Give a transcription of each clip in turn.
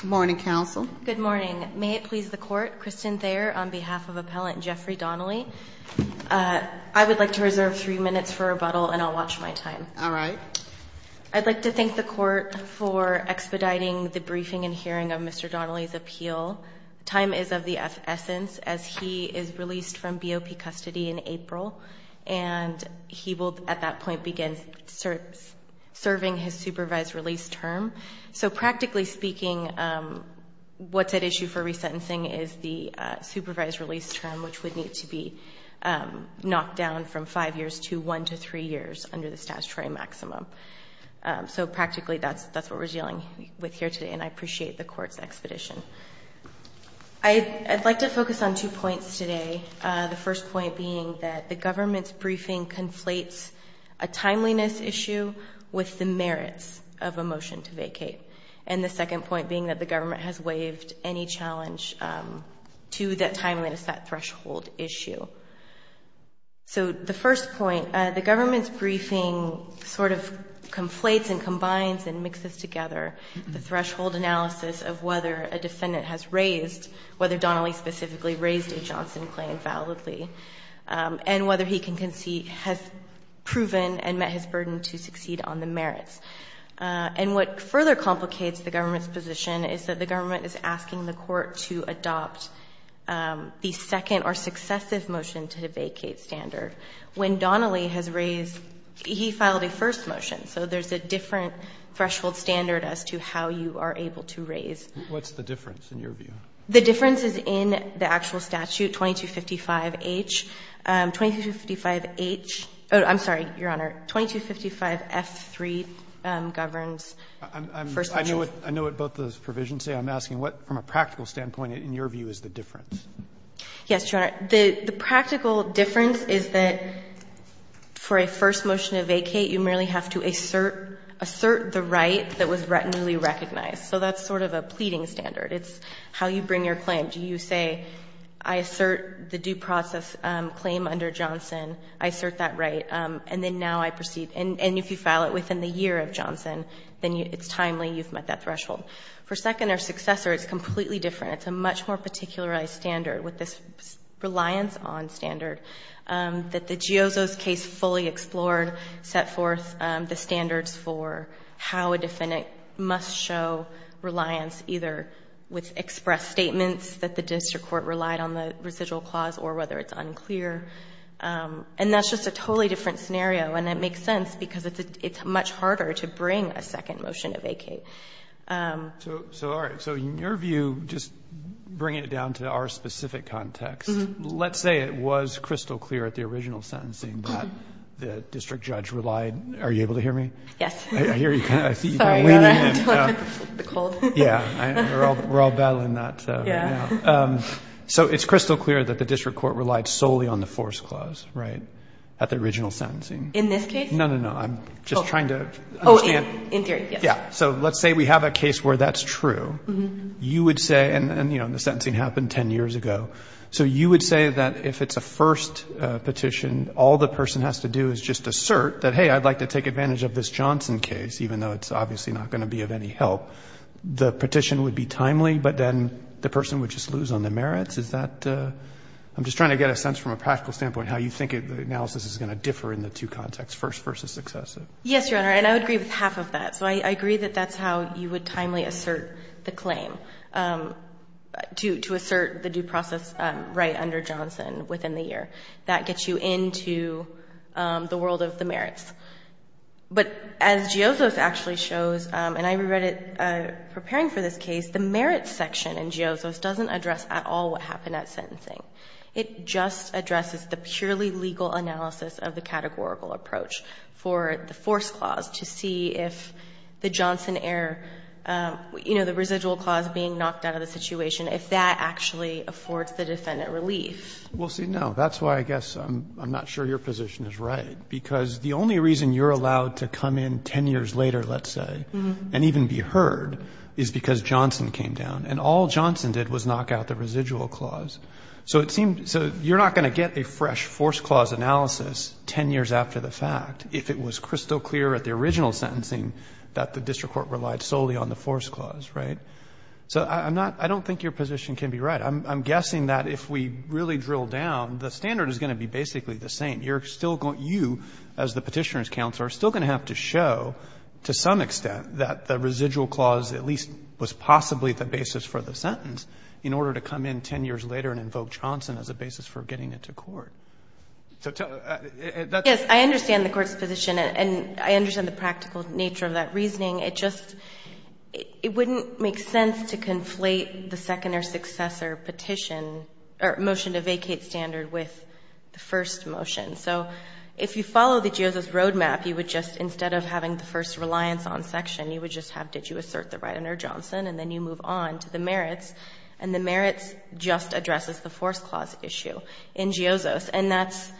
Good morning, counsel. Good morning. May it please the court, Kristen Thayer on behalf of appellant Jeffrey Donnelly. I would like to reserve three minutes for rebuttal and I'll watch my time. All right. I'd like to thank the court for expediting the briefing and hearing of Mr. Donnelly's appeal. Time is of the essence as he is released from BOP custody in April, and he will at that point begin serving his supervised release term. So practically speaking, what's at issue for resentencing is the supervised release term, which would need to be knocked down from five years to one to three years under the statutory maximum. So practically that's what we're dealing with here today, and I appreciate the court's expedition. I'd like to focus on two points today, the first point being that the government's briefing conflates a timeliness issue with the merits of a motion to vacate, and the second point being that the government has waived any challenge to that timeliness, that threshold issue. So the first point, the government's briefing sort of conflates and combines and mixes together the threshold analysis of whether a defendant has raised, whether Donnelly specifically raised a Johnson claim validly, and whether he has proven and met his burden to succeed on the merits. And what further complicates the government's position is that the government is asking the court to adopt the second or successive motion to the vacate standard. When Donnelly has raised, he filed a first motion, so there's a different threshold standard as to how you are able to raise. Roberts, what's the difference in your view? The difference is in the actual statute, 2255H. 2255H — oh, I'm sorry, Your Honor. 2255F3 governs first motion. I know what both those provisions say. I'm asking what, from a practical standpoint, in your view, is the difference? Yes, Your Honor. The practical difference is that for a first motion to vacate, you merely have to assert the right that was retinually recognized. So that's sort of a pleading standard. It's how you bring your claim. You say, I assert the due process claim under Johnson. I assert that right. And then now I proceed. And if you file it within the year of Johnson, then it's timely. You've met that threshold. For second or successor, it's completely different. It's a much more particularized standard with this reliance on standard that the Giozzo's case fully explored, set forth the standards for how a defendant must show reliance either with express statements that the district court relied on the residual clause or whether it's unclear. And that's just a totally different scenario. And it makes sense because it's much harder to bring a second motion to vacate. So, all right. So in your view, just bringing it down to our specific context, let's say it was crystal clear at the original sentencing that the district judge relied. Are you able to hear me? Yes. I hear you. Sorry about that. The cold. Yeah. We're all battling that. Yeah. So it's crystal clear that the district court relied solely on the force clause, right, at the original sentencing. In this case? No, no, no. I'm just trying to understand. Oh, in theory, yes. Yeah. So let's say we have a case where that's true. You would say, and, you know, the sentencing happened 10 years ago. So you would say that if it's a first petition, all the person has to do is just assert that, hey, I'd like to take advantage of this Johnson case, even though it's obviously not going to be of any help. The petition would be timely, but then the person would just lose on the merits? Is that? I'm just trying to get a sense from a practical standpoint how you think the analysis is going to differ in the two contexts, first versus successive. Yes, Your Honor. And I would agree with half of that. So I agree that that's how you would timely assert the claim, to assert the due process right under Johnson within the year. That gets you into the world of the merits. But as Giosos actually shows, and I reread it preparing for this case, the merits section in Giosos doesn't address at all what happened at sentencing. It just addresses the purely legal analysis of the categorical approach for the force clause to see if the Johnson error, you know, the residual clause being knocked out of the defendant relief. Well, see, no. That's why I guess I'm not sure your position is right. Because the only reason you're allowed to come in 10 years later, let's say, and even be heard, is because Johnson came down. And all Johnson did was knock out the residual clause. So it seemed, so you're not going to get a fresh force clause analysis 10 years after the fact if it was crystal clear at the original sentencing that the district court relied solely on the force clause, right? So I'm not, I don't think your position can be right. I'm guessing that if we really drill down, the standard is going to be basically the same. You're still going to, you as the Petitioner's counsel, are still going to have to show to some extent that the residual clause at least was possibly the basis for the sentence in order to come in 10 years later and invoke Johnson as a basis for getting it to court. So that's the point. Yes, I understand the Court's position. And I understand the practical nature of that reasoning. It just, it wouldn't make sense to conflate the second or successor petition, or motion to vacate standard with the first motion. So if you follow the GIOZOS roadmap, you would just, instead of having the first reliance on section, you would just have, did you assert the right under Johnson? And then you move on to the merits. And the merits just addresses the force clause issue in GIOZOS. And that's,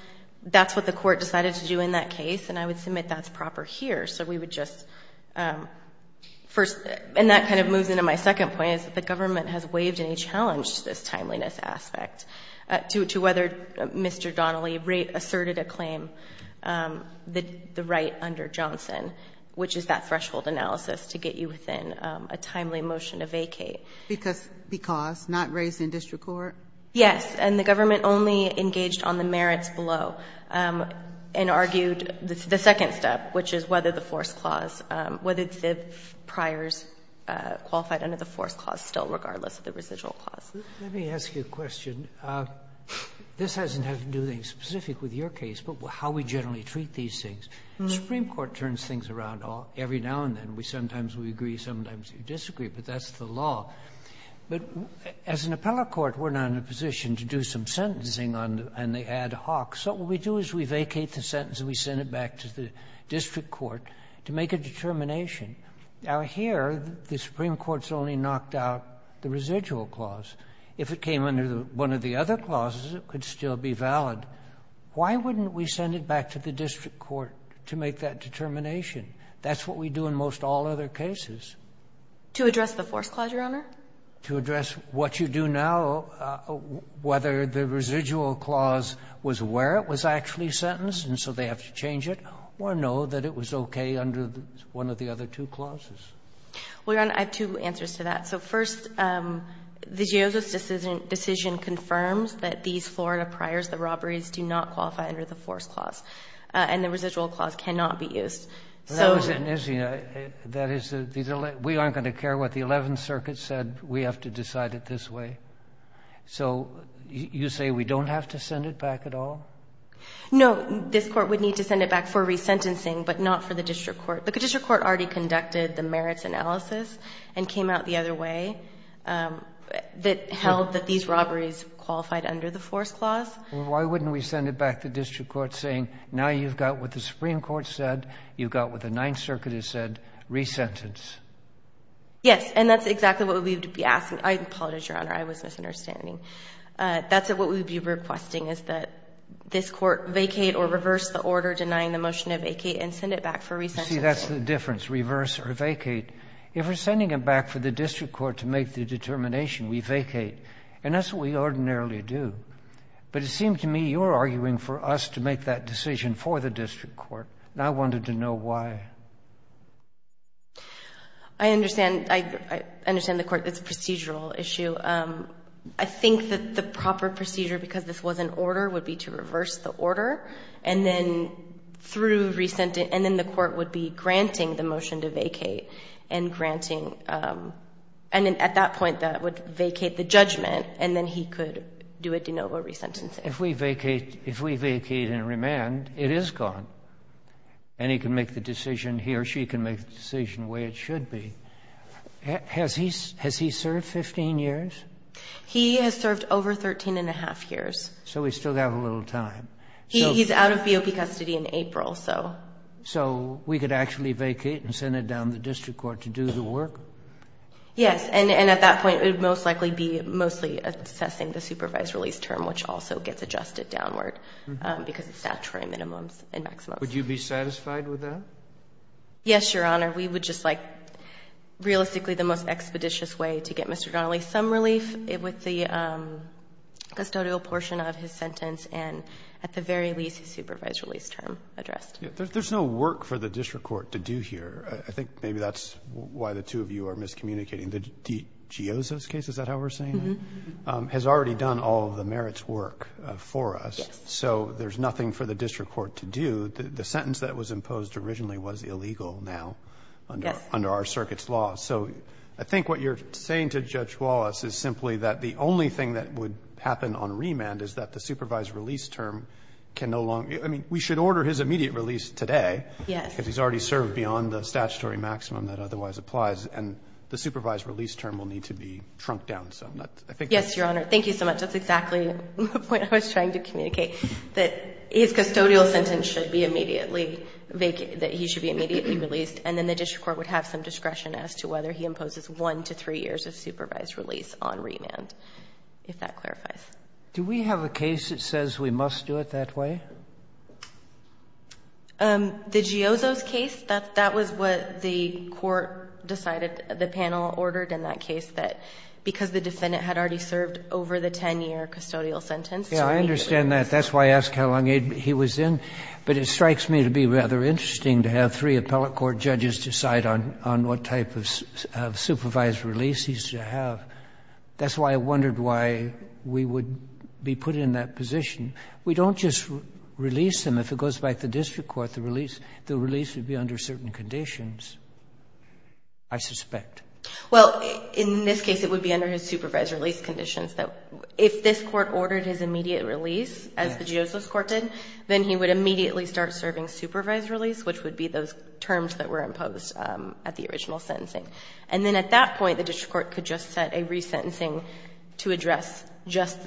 that's what the Court decided to do in that case. And I would submit that's proper here. So we would just, first, and that kind of moves into my second point, is that the government has waived any challenge to this timeliness aspect, to whether Mr. Donnelly asserted a claim, the right under Johnson, which is that threshold analysis to get you within a timely motion to vacate. Because, not raised in district court? Yes. And the government only engaged on the merits below and argued the second step, which is whether the force clause, whether the priors qualified under the force clause still, regardless of the residual clause. Let me ask you a question. This hasn't had to do anything specific with your case, but how we generally treat these things. The Supreme Court turns things around every now and then. Sometimes we agree, sometimes we disagree. But that's the law. But as an appellate court, we're not in a position to do some sentencing on the ad hoc. So what we do is we vacate the sentence and we send it back to the district court to make a determination. Now, here, the Supreme Court's only knocked out the residual clause. If it came under one of the other clauses, it could still be valid. Why wouldn't we send it back to the district court to make that determination? That's what we do in most all other cases. To address the force clause, Your Honor? To address what you do now, whether the residual clause was where it was actually sentenced and so they have to change it, or no, that it was okay under one of the other two clauses. Well, Your Honor, I have two answers to that. So first, the Geozo's decision confirms that these Florida priors, the robberies, do not qualify under the force clause. And the residual clause cannot be used. That is, we aren't going to care what the Eleventh Circuit said. We have to decide it this way. So you say we don't have to send it back at all? No. This Court would need to send it back for resentencing, but not for the district court. The district court already conducted the merits analysis and came out the other way that held that these robberies qualified under the force clause. Why wouldn't we send it back to the district court saying, now you've got what the Ninth Circuit has said, resentence? Yes. And that's exactly what we would be asking. I apologize, Your Honor. I was misunderstanding. That's what we would be requesting, is that this Court vacate or reverse the order denying the motion to vacate and send it back for resentencing. You see, that's the difference, reverse or vacate. If we're sending it back for the district court to make the determination, we vacate. And that's what we ordinarily do. But it seemed to me you were arguing for us to make that decision for the district court, and I wanted to know why. I understand. I understand the Court that it's a procedural issue. I think that the proper procedure, because this was an order, would be to reverse the order, and then through resentence, and then the Court would be granting the motion to vacate and granting, and at that point that would vacate the judgment, and then he could do a de novo resentencing. If we vacate and remand, it is gone, and he can make the decision, he or she can make the decision the way it should be. Has he served 15 years? He has served over 13 and a half years. So we still have a little time. He's out of BOP custody in April, so. So we could actually vacate and send it down to the district court to do the work? Yes, and at that point it would most likely be mostly assessing the supervised release term, which also gets adjusted downward because of statutory minimums and maximums. Would you be satisfied with that? Yes, Your Honor. We would just like realistically the most expeditious way to get Mr. Donnelly some relief with the custodial portion of his sentence and at the very least his supervised release term addressed. There's no work for the district court to do here. I think maybe that's why the two of you are miscommunicating. The Gioza's case, is that how we're saying it, has already done all of the merits work for us. Yes. So there's nothing for the district court to do. The sentence that was imposed originally was illegal now under our circuit's law. So I think what you're saying to Judge Wallace is simply that the only thing that would happen on remand is that the supervised release term can no longer, I mean, we should order his immediate release today. Yes. Because he's already served beyond the statutory maximum that otherwise applies, and the supervised release term will need to be shrunk down. Yes, Your Honor. Thank you so much. That's exactly the point I was trying to communicate, that his custodial sentence should be immediately vacant, that he should be immediately released, and then the district court would have some discretion as to whether he imposes one to three years of supervised release on remand, if that clarifies. Do we have a case that says we must do it that way? The Giozzo's case, that was what the court decided, the panel ordered in that case, that because the defendant had already served over the 10-year custodial sentence, so immediately. Yes, I understand that. That's why I asked how long he was in. But it strikes me to be rather interesting to have three appellate court judges decide on what type of supervised release he's to have. That's why I wondered why we would be put in that position. We don't just release him. If it goes back to district court, the release would be under certain conditions, I suspect. Well, in this case, it would be under his supervised release conditions. If this court ordered his immediate release, as the Giozzo's court did, then he would immediately start serving supervised release, which would be those terms that were imposed at the original sentencing. And then at that point, the district court could just set a resentencing to address just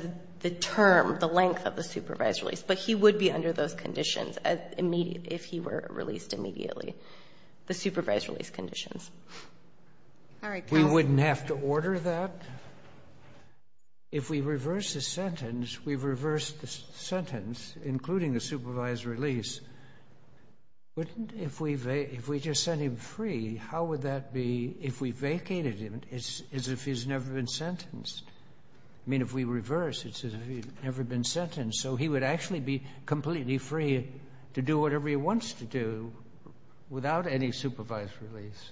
the term, the length of the supervised release. But he would be under those conditions if he were released immediately, the supervised release conditions. All right, counsel. We wouldn't have to order that? If we reverse the sentence, we've reversed the sentence, including the supervised release. Wouldn't if we just sent him free, how would that be if we vacated him as if he's never been sentenced? I mean, if we reverse, it's as if he's never been sentenced. So he would actually be completely free to do whatever he wants to do without any supervised release.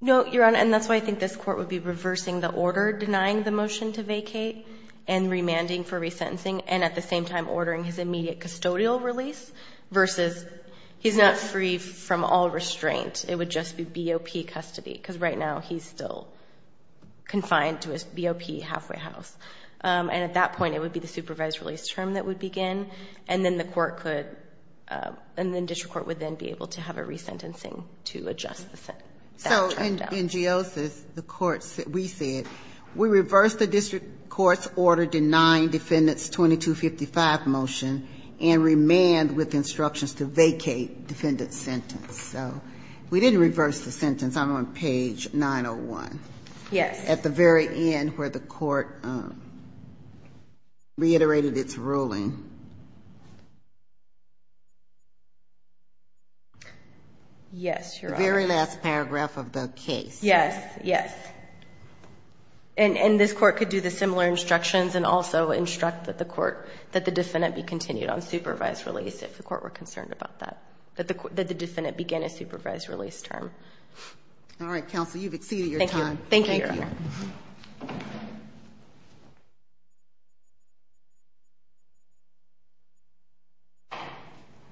No, Your Honor, and that's why I think this court would be reversing the order, denying the motion to vacate, and remanding for resentencing, and at the same time ordering his immediate custodial release, versus he's not free from all restraint. It would just be BOP custody. Because right now he's still confined to his BOP halfway house. And at that point, it would be the supervised release term that would begin, and then the court could, and then district court would then be able to have a resentencing to adjust the sentence. So in Geosis, the court, we said, we reversed the district court's order denying defendant's 2255 motion and remand with instructions to vacate defendant's sentence. So we didn't reverse the sentence. I'm on page 901. Yes. At the very end where the court reiterated its ruling. Yes, Your Honor. The very last paragraph of the case. Yes, yes. And this court could do the similar instructions and also instruct that the court, that the defendant be continued on supervised release if the court were concerned about that. That the defendant begin a supervised release term. All right, counsel. You've exceeded your time. Thank you, Your Honor.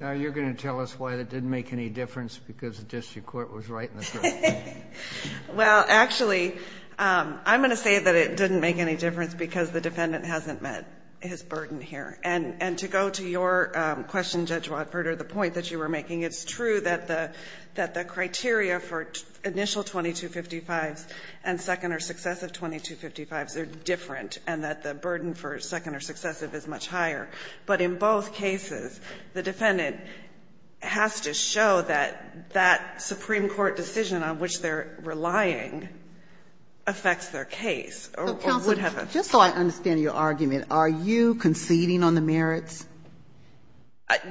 Now you're going to tell us why that didn't make any difference because the district court was right in the first place. Well, actually, I'm going to say that it didn't make any difference because the defendant hasn't met his burden here. And to go to your question, Judge Watford, or the point that you were making, it's true that the criteria for initial 2255s and second or successive 2255s are different and that the burden for second or successive is much higher. But in both cases, the defendant has to show that that supreme court decision on which they're relying affects their case or would have a. So, counsel, just so I understand your argument, are you conceding on the merits?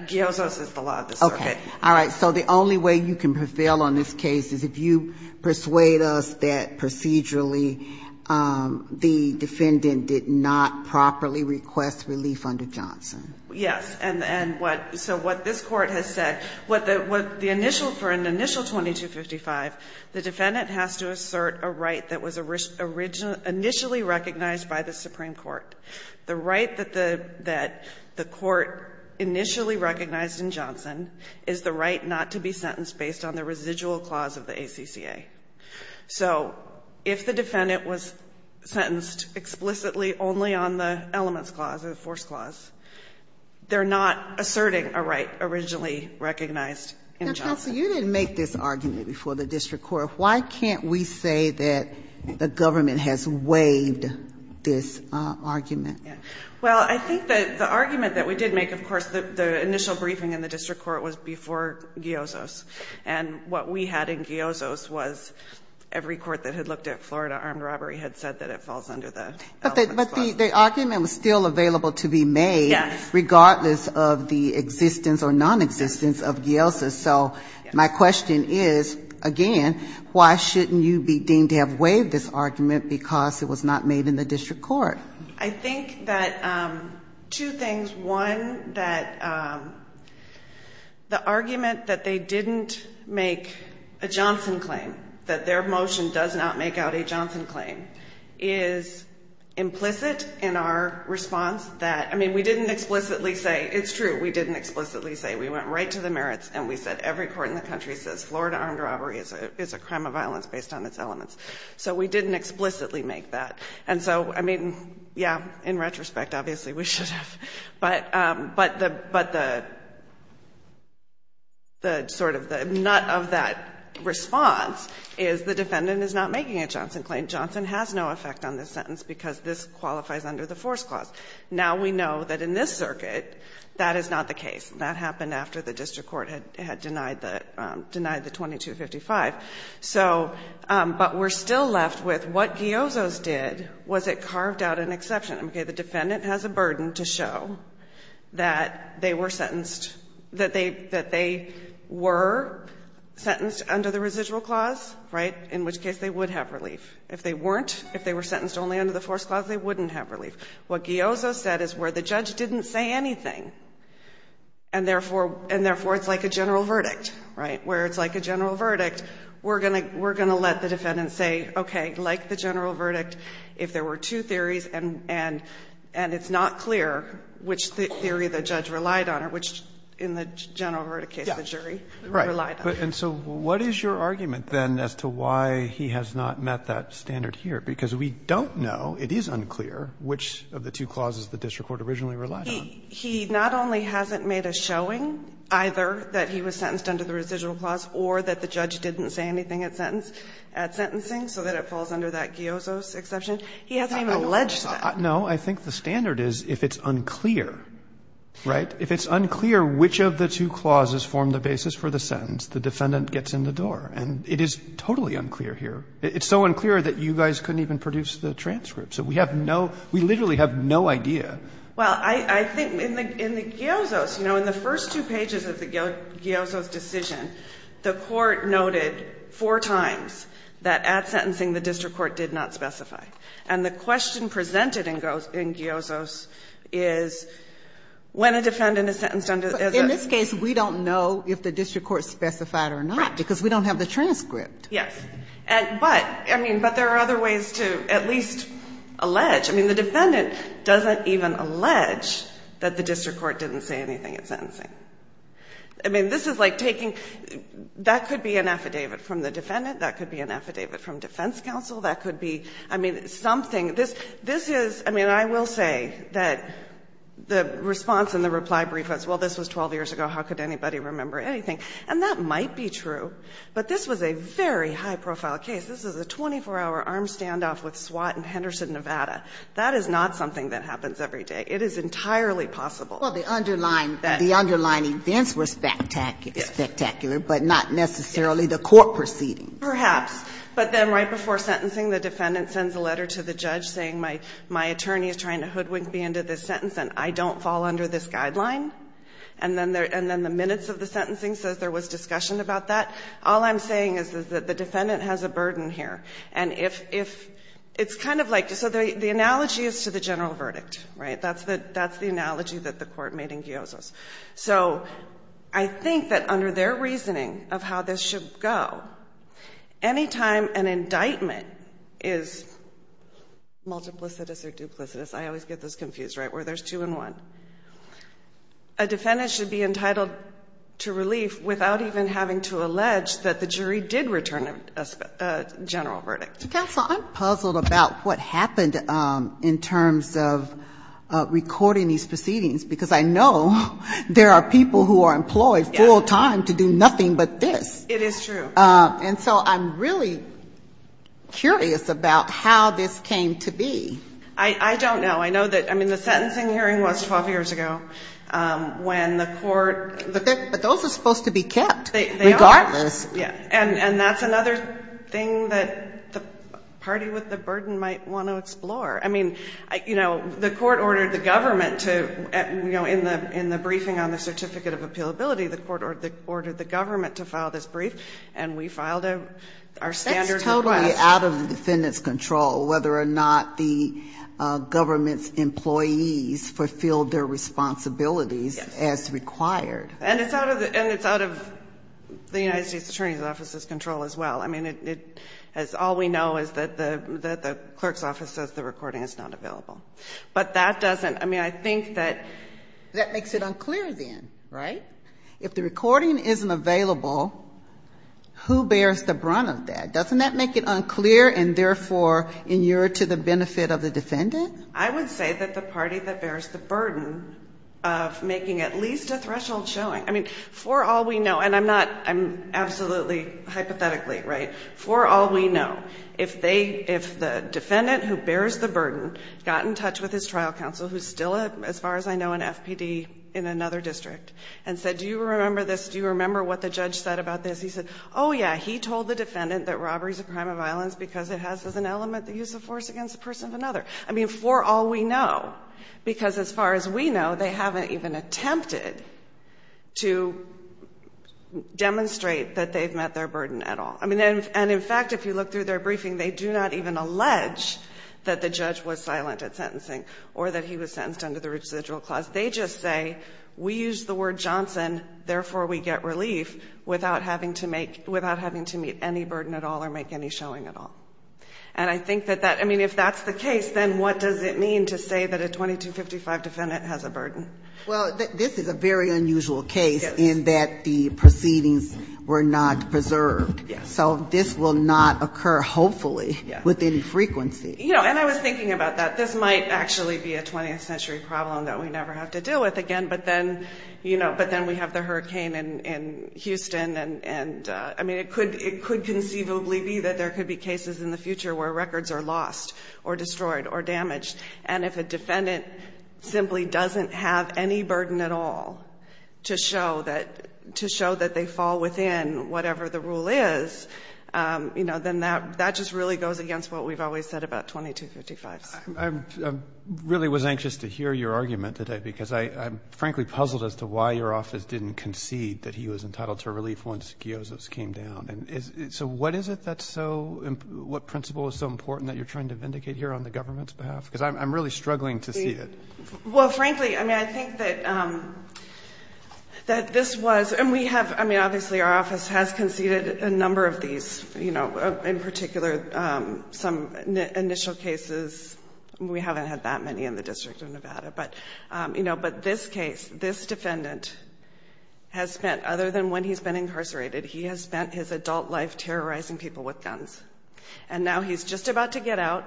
Giozo's is the law of the circuit. Okay. All right. So the only way you can prevail on this case is if you persuade us that procedurally the defendant did not properly request relief under Johnson. Yes. And so what this Court has said, what the initial, for an initial 2255, the defendant has to assert a right that was initially recognized by the supreme court. The right that the court initially recognized in Johnson is the right not to be sentenced based on the residual clause of the ACCA. So if the defendant was sentenced explicitly only on the elements clause or the force clause, they're not asserting a right originally recognized in Johnson. Now, counsel, you didn't make this argument before the district court. Why can't we say that the government has waived this argument? Well, I think that the argument that we did make, of course, the initial briefing in the district court was before Giozo's. And what we had in Giozo's was every court that had looked at Florida armed robbery had said that it falls under the element clause. But the argument was still available to be made regardless of the existence or nonexistence of Giozo's. And so my question is, again, why shouldn't you be deemed to have waived this argument because it was not made in the district court? I think that two things. One, that the argument that they didn't make a Johnson claim, that their motion does not make out a Johnson claim, is implicit in our response. I mean, we didn't explicitly say, it's true, we didn't explicitly say. We went right to the merits and we said every court in the country says Florida armed robbery is a crime of violence based on its elements. So we didn't explicitly make that. And so, I mean, yeah, in retrospect, obviously, we should have. But the sort of the nut of that response is the defendant is not making a Johnson claim. Johnson has no effect on this sentence because this qualifies under the force clause. Now we know that in this circuit, that is not the case. That happened after the district court had denied the 2255. So, but we're still left with what Giozo's did was it carved out an exception. Okay, the defendant has a burden to show that they were sentenced, that they were sentenced under the residual clause, right, in which case they would have relief. If they weren't, if they were sentenced only under the force clause, they wouldn't have relief. What Giozo said is where the judge didn't say anything, and therefore, and therefore it's like a general verdict, right, where it's like a general verdict, we're going to let the defendant say, okay, like the general verdict, if there were two theories and it's not clear which theory the judge relied on or which in the general verdict case the jury relied on. Roberts. And so what is your argument then as to why he has not met that standard here? Because we don't know, it is unclear, which of the two clauses the district court originally relied on. He not only hasn't made a showing either that he was sentenced under the residual clause or that the judge didn't say anything at sentence, at sentencing, so that it falls under that Giozo's exception. He hasn't even alleged that. No, I think the standard is if it's unclear, right, if it's unclear which of the two clauses formed the basis for the sentence, the defendant gets in the door. And it is totally unclear here. It's so unclear that you guys couldn't even produce the transcript. So we have no, we literally have no idea. Well, I think in the Giozo's, you know, in the first two pages of the Giozo's decision, the Court noted four times that at sentencing the district court did not specify. And the question presented in Giozo's is when a defendant is sentenced under. In this case, we don't know if the district court specified or not because we don't have the transcript. Yes. But, I mean, but there are other ways to at least allege. I mean, the defendant doesn't even allege that the district court didn't say anything at sentencing. I mean, this is like taking, that could be an affidavit from the defendant. That could be an affidavit from defense counsel. That could be, I mean, something. This is, I mean, I will say that the response in the reply brief was, well, this was 12 years ago. How could anybody remember anything? And that might be true. But this was a very high-profile case. This was a 24-hour armed standoff with SWAT in Henderson, Nevada. That is not something that happens every day. It is entirely possible. Ginsburg. Well, the underlying events were spectacular, but not necessarily the court proceeding. Perhaps. But then right before sentencing, the defendant sends a letter to the judge saying my attorney is trying to hoodwink me into this sentence and I don't fall under this guideline. And then the minutes of the sentencing says there was discussion about that. All I'm saying is that the defendant has a burden here. And if, it's kind of like, so the analogy is to the general verdict, right? That's the analogy that the court made in Giosos. So I think that under their reasoning of how this should go, any time an indictment is multiplicitous or duplicitous, I always get this confused, right, where there's two and one. A defendant should be entitled to relief without even having to allege that the jury did return a general verdict. Counsel, I'm puzzled about what happened in terms of recording these proceedings because I know there are people who are employed full time to do nothing but this. It is true. And so I'm really curious about how this came to be. I don't know. I know that, I mean, the sentencing hearing was 12 years ago when the court. But those are supposed to be kept regardless. Yeah. And that's another thing that the party with the burden might want to explore. I mean, you know, the court ordered the government to, you know, in the briefing on the certificate of appealability, the court ordered the government to file this brief and we filed our standard request. It's totally out of the defendant's control whether or not the government's employees fulfilled their responsibilities as required. And it's out of the United States Attorney's Office's control as well. I mean, all we know is that the clerk's office says the recording is not available. But that doesn't, I mean, I think that. That makes it unclear then, right? If the recording isn't available, who bears the brunt of that? Doesn't that make it unclear and, therefore, you're to the benefit of the defendant? I would say that the party that bears the burden of making at least a threshold showing, I mean, for all we know, and I'm not, I'm absolutely hypothetically, right, for all we know, if the defendant who bears the burden got in touch with his trial counsel, who's still, as far as I know, an FPD in another district, and said, do you remember this? Do you remember what the judge said about this? He said, oh, yeah, he told the defendant that robbery is a crime of violence because it has as an element the use of force against the person of another. I mean, for all we know, because as far as we know, they haven't even attempted to demonstrate that they've met their burden at all. I mean, and, in fact, if you look through their briefing, they do not even allege that the judge was silent at sentencing or that he was sentenced under the residual clause. They just say, we use the word Johnson, therefore we get relief, without having to make, without having to meet any burden at all or make any showing at all. And I think that that, I mean, if that's the case, then what does it mean to say that a 2255 defendant has a burden? Well, this is a very unusual case in that the proceedings were not preserved. Yes. So this will not occur, hopefully, within frequency. You know, and I was thinking about that. This might actually be a 20th century problem that we never have to deal with again, but then, you know, but then we have the hurricane in Houston and, I mean, it could conceivably be that there could be cases in the future where records are lost or destroyed or damaged, and if a defendant simply doesn't have any burden at all to show that they fall within whatever the rule is, you know, then that just really goes against what we've always said about 2255s. I really was anxious to hear your argument today, because I'm frankly puzzled as to why your office didn't concede that he was entitled to relief once Giosos came down. And so what is it that's so, what principle is so important that you're trying to vindicate here on the government's behalf? Because I'm really struggling to see it. Well, frankly, I mean, I think that this was, and we have, I mean, obviously our office has conceded a number of these, you know, in particular some initial cases. We haven't had that many in the District of Nevada, but, you know, but this case, this defendant has spent, other than when he's been incarcerated, he has spent his adult life terrorizing people with guns. And now he's just about to get out,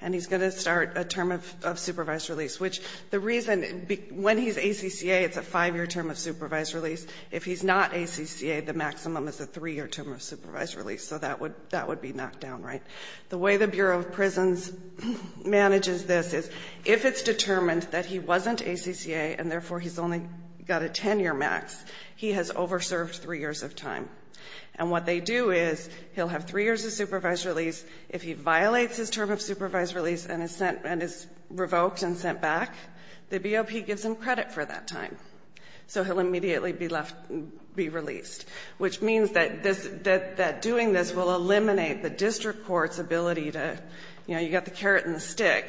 and he's going to start a term of supervised release, which the reason, when he's ACCA, it's a five-year term of supervised release. If he's not ACCA, the maximum is a three-year term of supervised release. So that would be knocked down, right? The way the Bureau of Prisons manages this is, if it's determined that he wasn't ACCA, and therefore he's only got a 10-year max, he has over-served three years of time. And what they do is, he'll have three years of supervised release. If he violates his term of supervised release and is sent, and is revoked and sent back, the BOP gives him credit for that time. So he'll immediately be left, be released, which means that this, that doing this will eliminate the district court's ability to, you know, you've got the carrot and the stick,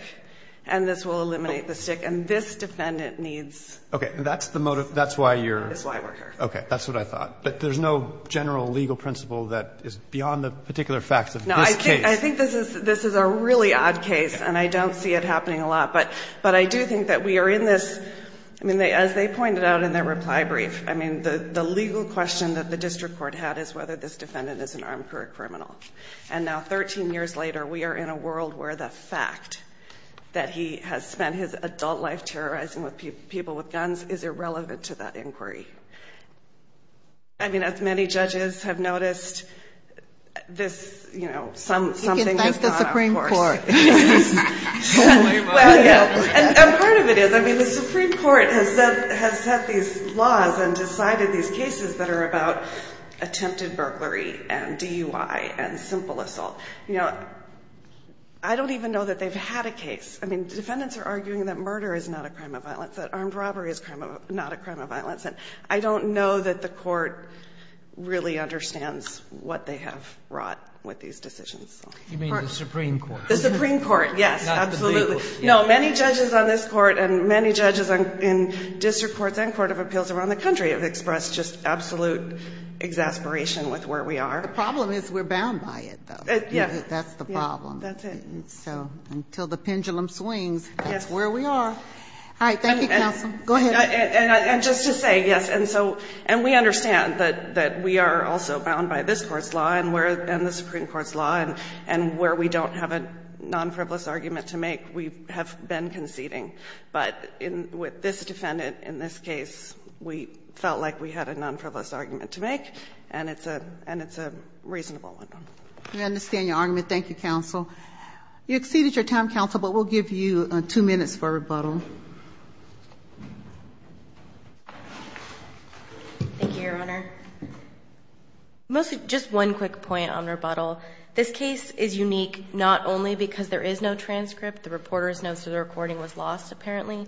and this will eliminate the stick. And this defendant needs. Roberts. Okay. And that's the motive. That's why you're. O'Connell. That's why we're here. Roberts. Okay. That's what I thought. But there's no general legal principle that is beyond the particular facts of this case. I think this is a really odd case, and I don't see it happening a lot. But I do think that we are in this, I mean, as they pointed out in their reply brief, I mean, the legal question that the district court had is whether this defendant is an armed career criminal. And now 13 years later, we are in a world where the fact that he has spent his adult life terrorizing people with guns is irrelevant to that inquiry. I mean, as many judges have noticed, this, you know, something. You can thank the Supreme Court. And part of it is, I mean, the Supreme Court has said, has set these laws and decided these cases that are about attempted burglary and DUI and simple assault. You know, I don't even know that they've had a case. I mean, defendants are arguing that murder is not a crime of violence, that armed robbery is not a crime of violence. And I don't know that the court really understands what they have brought with these decisions. You mean the Supreme Court? The Supreme Court, yes, absolutely. Not the legal. No, many judges on this Court and many judges in district courts and court of appeals around the country have expressed just absolute exasperation with where we are. The problem is we're bound by it, though. Yes. That's the problem. That's it. So until the pendulum swings, that's where we are. All right. Thank you, counsel. Go ahead. And just to say, yes, and so, and we understand that we are also bound by this Supreme Court's law, and where we don't have a non-frivolous argument to make, we have been conceding. But with this defendant in this case, we felt like we had a non-frivolous argument to make, and it's a reasonable one. We understand your argument. Thank you, counsel. You exceeded your time, counsel, but we'll give you two minutes for rebuttal. Thank you, Your Honor. Just one quick point on rebuttal. This case is unique not only because there is no transcript, the reporter's notes of the recording was lost, apparently,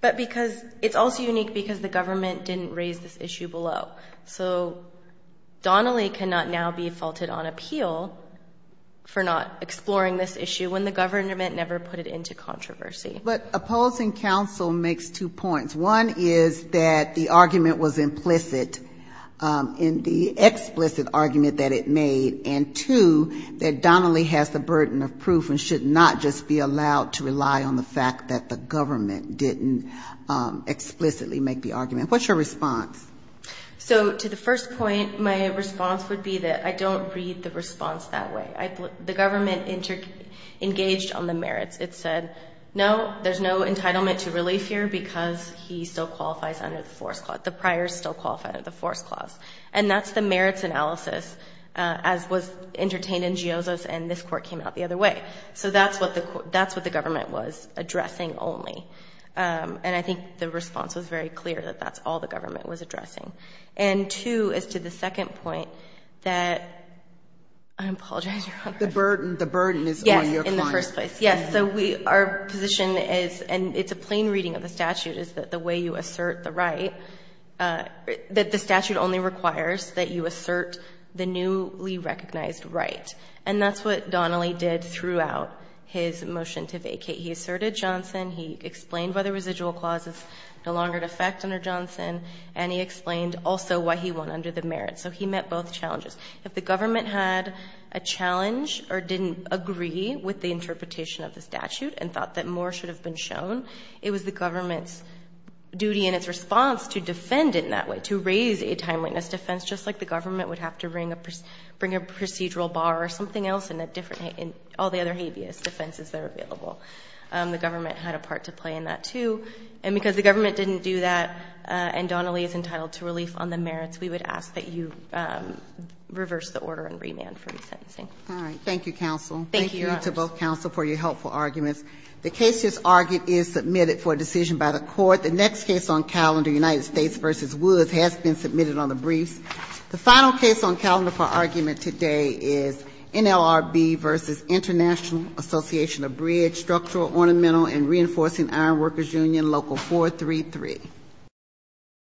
but because it's also unique because the government didn't raise this issue below. So Donnelly cannot now be faulted on appeal for not exploring this issue when the government never put it into controversy. But opposing counsel makes two points. One is that the argument was implicit in the explicit argument that it made, and two, that Donnelly has the burden of proof and should not just be allowed to rely on the fact that the government didn't explicitly make the argument. What's your response? So to the first point, my response would be that I don't read the response that way. The government engaged on the merits. It said, no, there's no entitlement to relief here because he still qualifies under the force clause. The priors still qualify under the force clause. And that's the merits analysis, as was entertained in Gioza's and this court came out the other way. So that's what the government was addressing only. And I think the response was very clear that that's all the government was addressing. And two, as to the second point, that I apologize, Your Honor. The burden is on your client. In the first place. Yes. So we, our position is, and it's a plain reading of the statute, is that the way you assert the right, that the statute only requires that you assert the newly recognized right. And that's what Donnelly did throughout his motion to vacate. He asserted Johnson. He explained why the residual clause is no longer in effect under Johnson. And he explained also why he won under the merits. So he met both challenges. If the government had a challenge or didn't agree with the interpretation of the statute and thought that more should have been shown, it was the government's duty and its response to defend it in that way, to raise a timeliness defense, just like the government would have to bring a procedural bar or something else in all the other habeas defenses that are available. The government had a part to play in that, too. And because the government didn't do that and Donnelly is entitled to relief on the merits, we would ask that you reverse the order and remand for resentencing. All right. Thank you, counsel. Thank you to both counsel for your helpful arguments. The case just argued is submitted for a decision by the court. The next case on calendar, United States v. Woods, has been submitted on the briefs. The final case on calendar for argument today is NLRB v. International Association of Bridge Structural, Ornamental, and Reinforcing Iron Workers Union, Local 433. Thank you.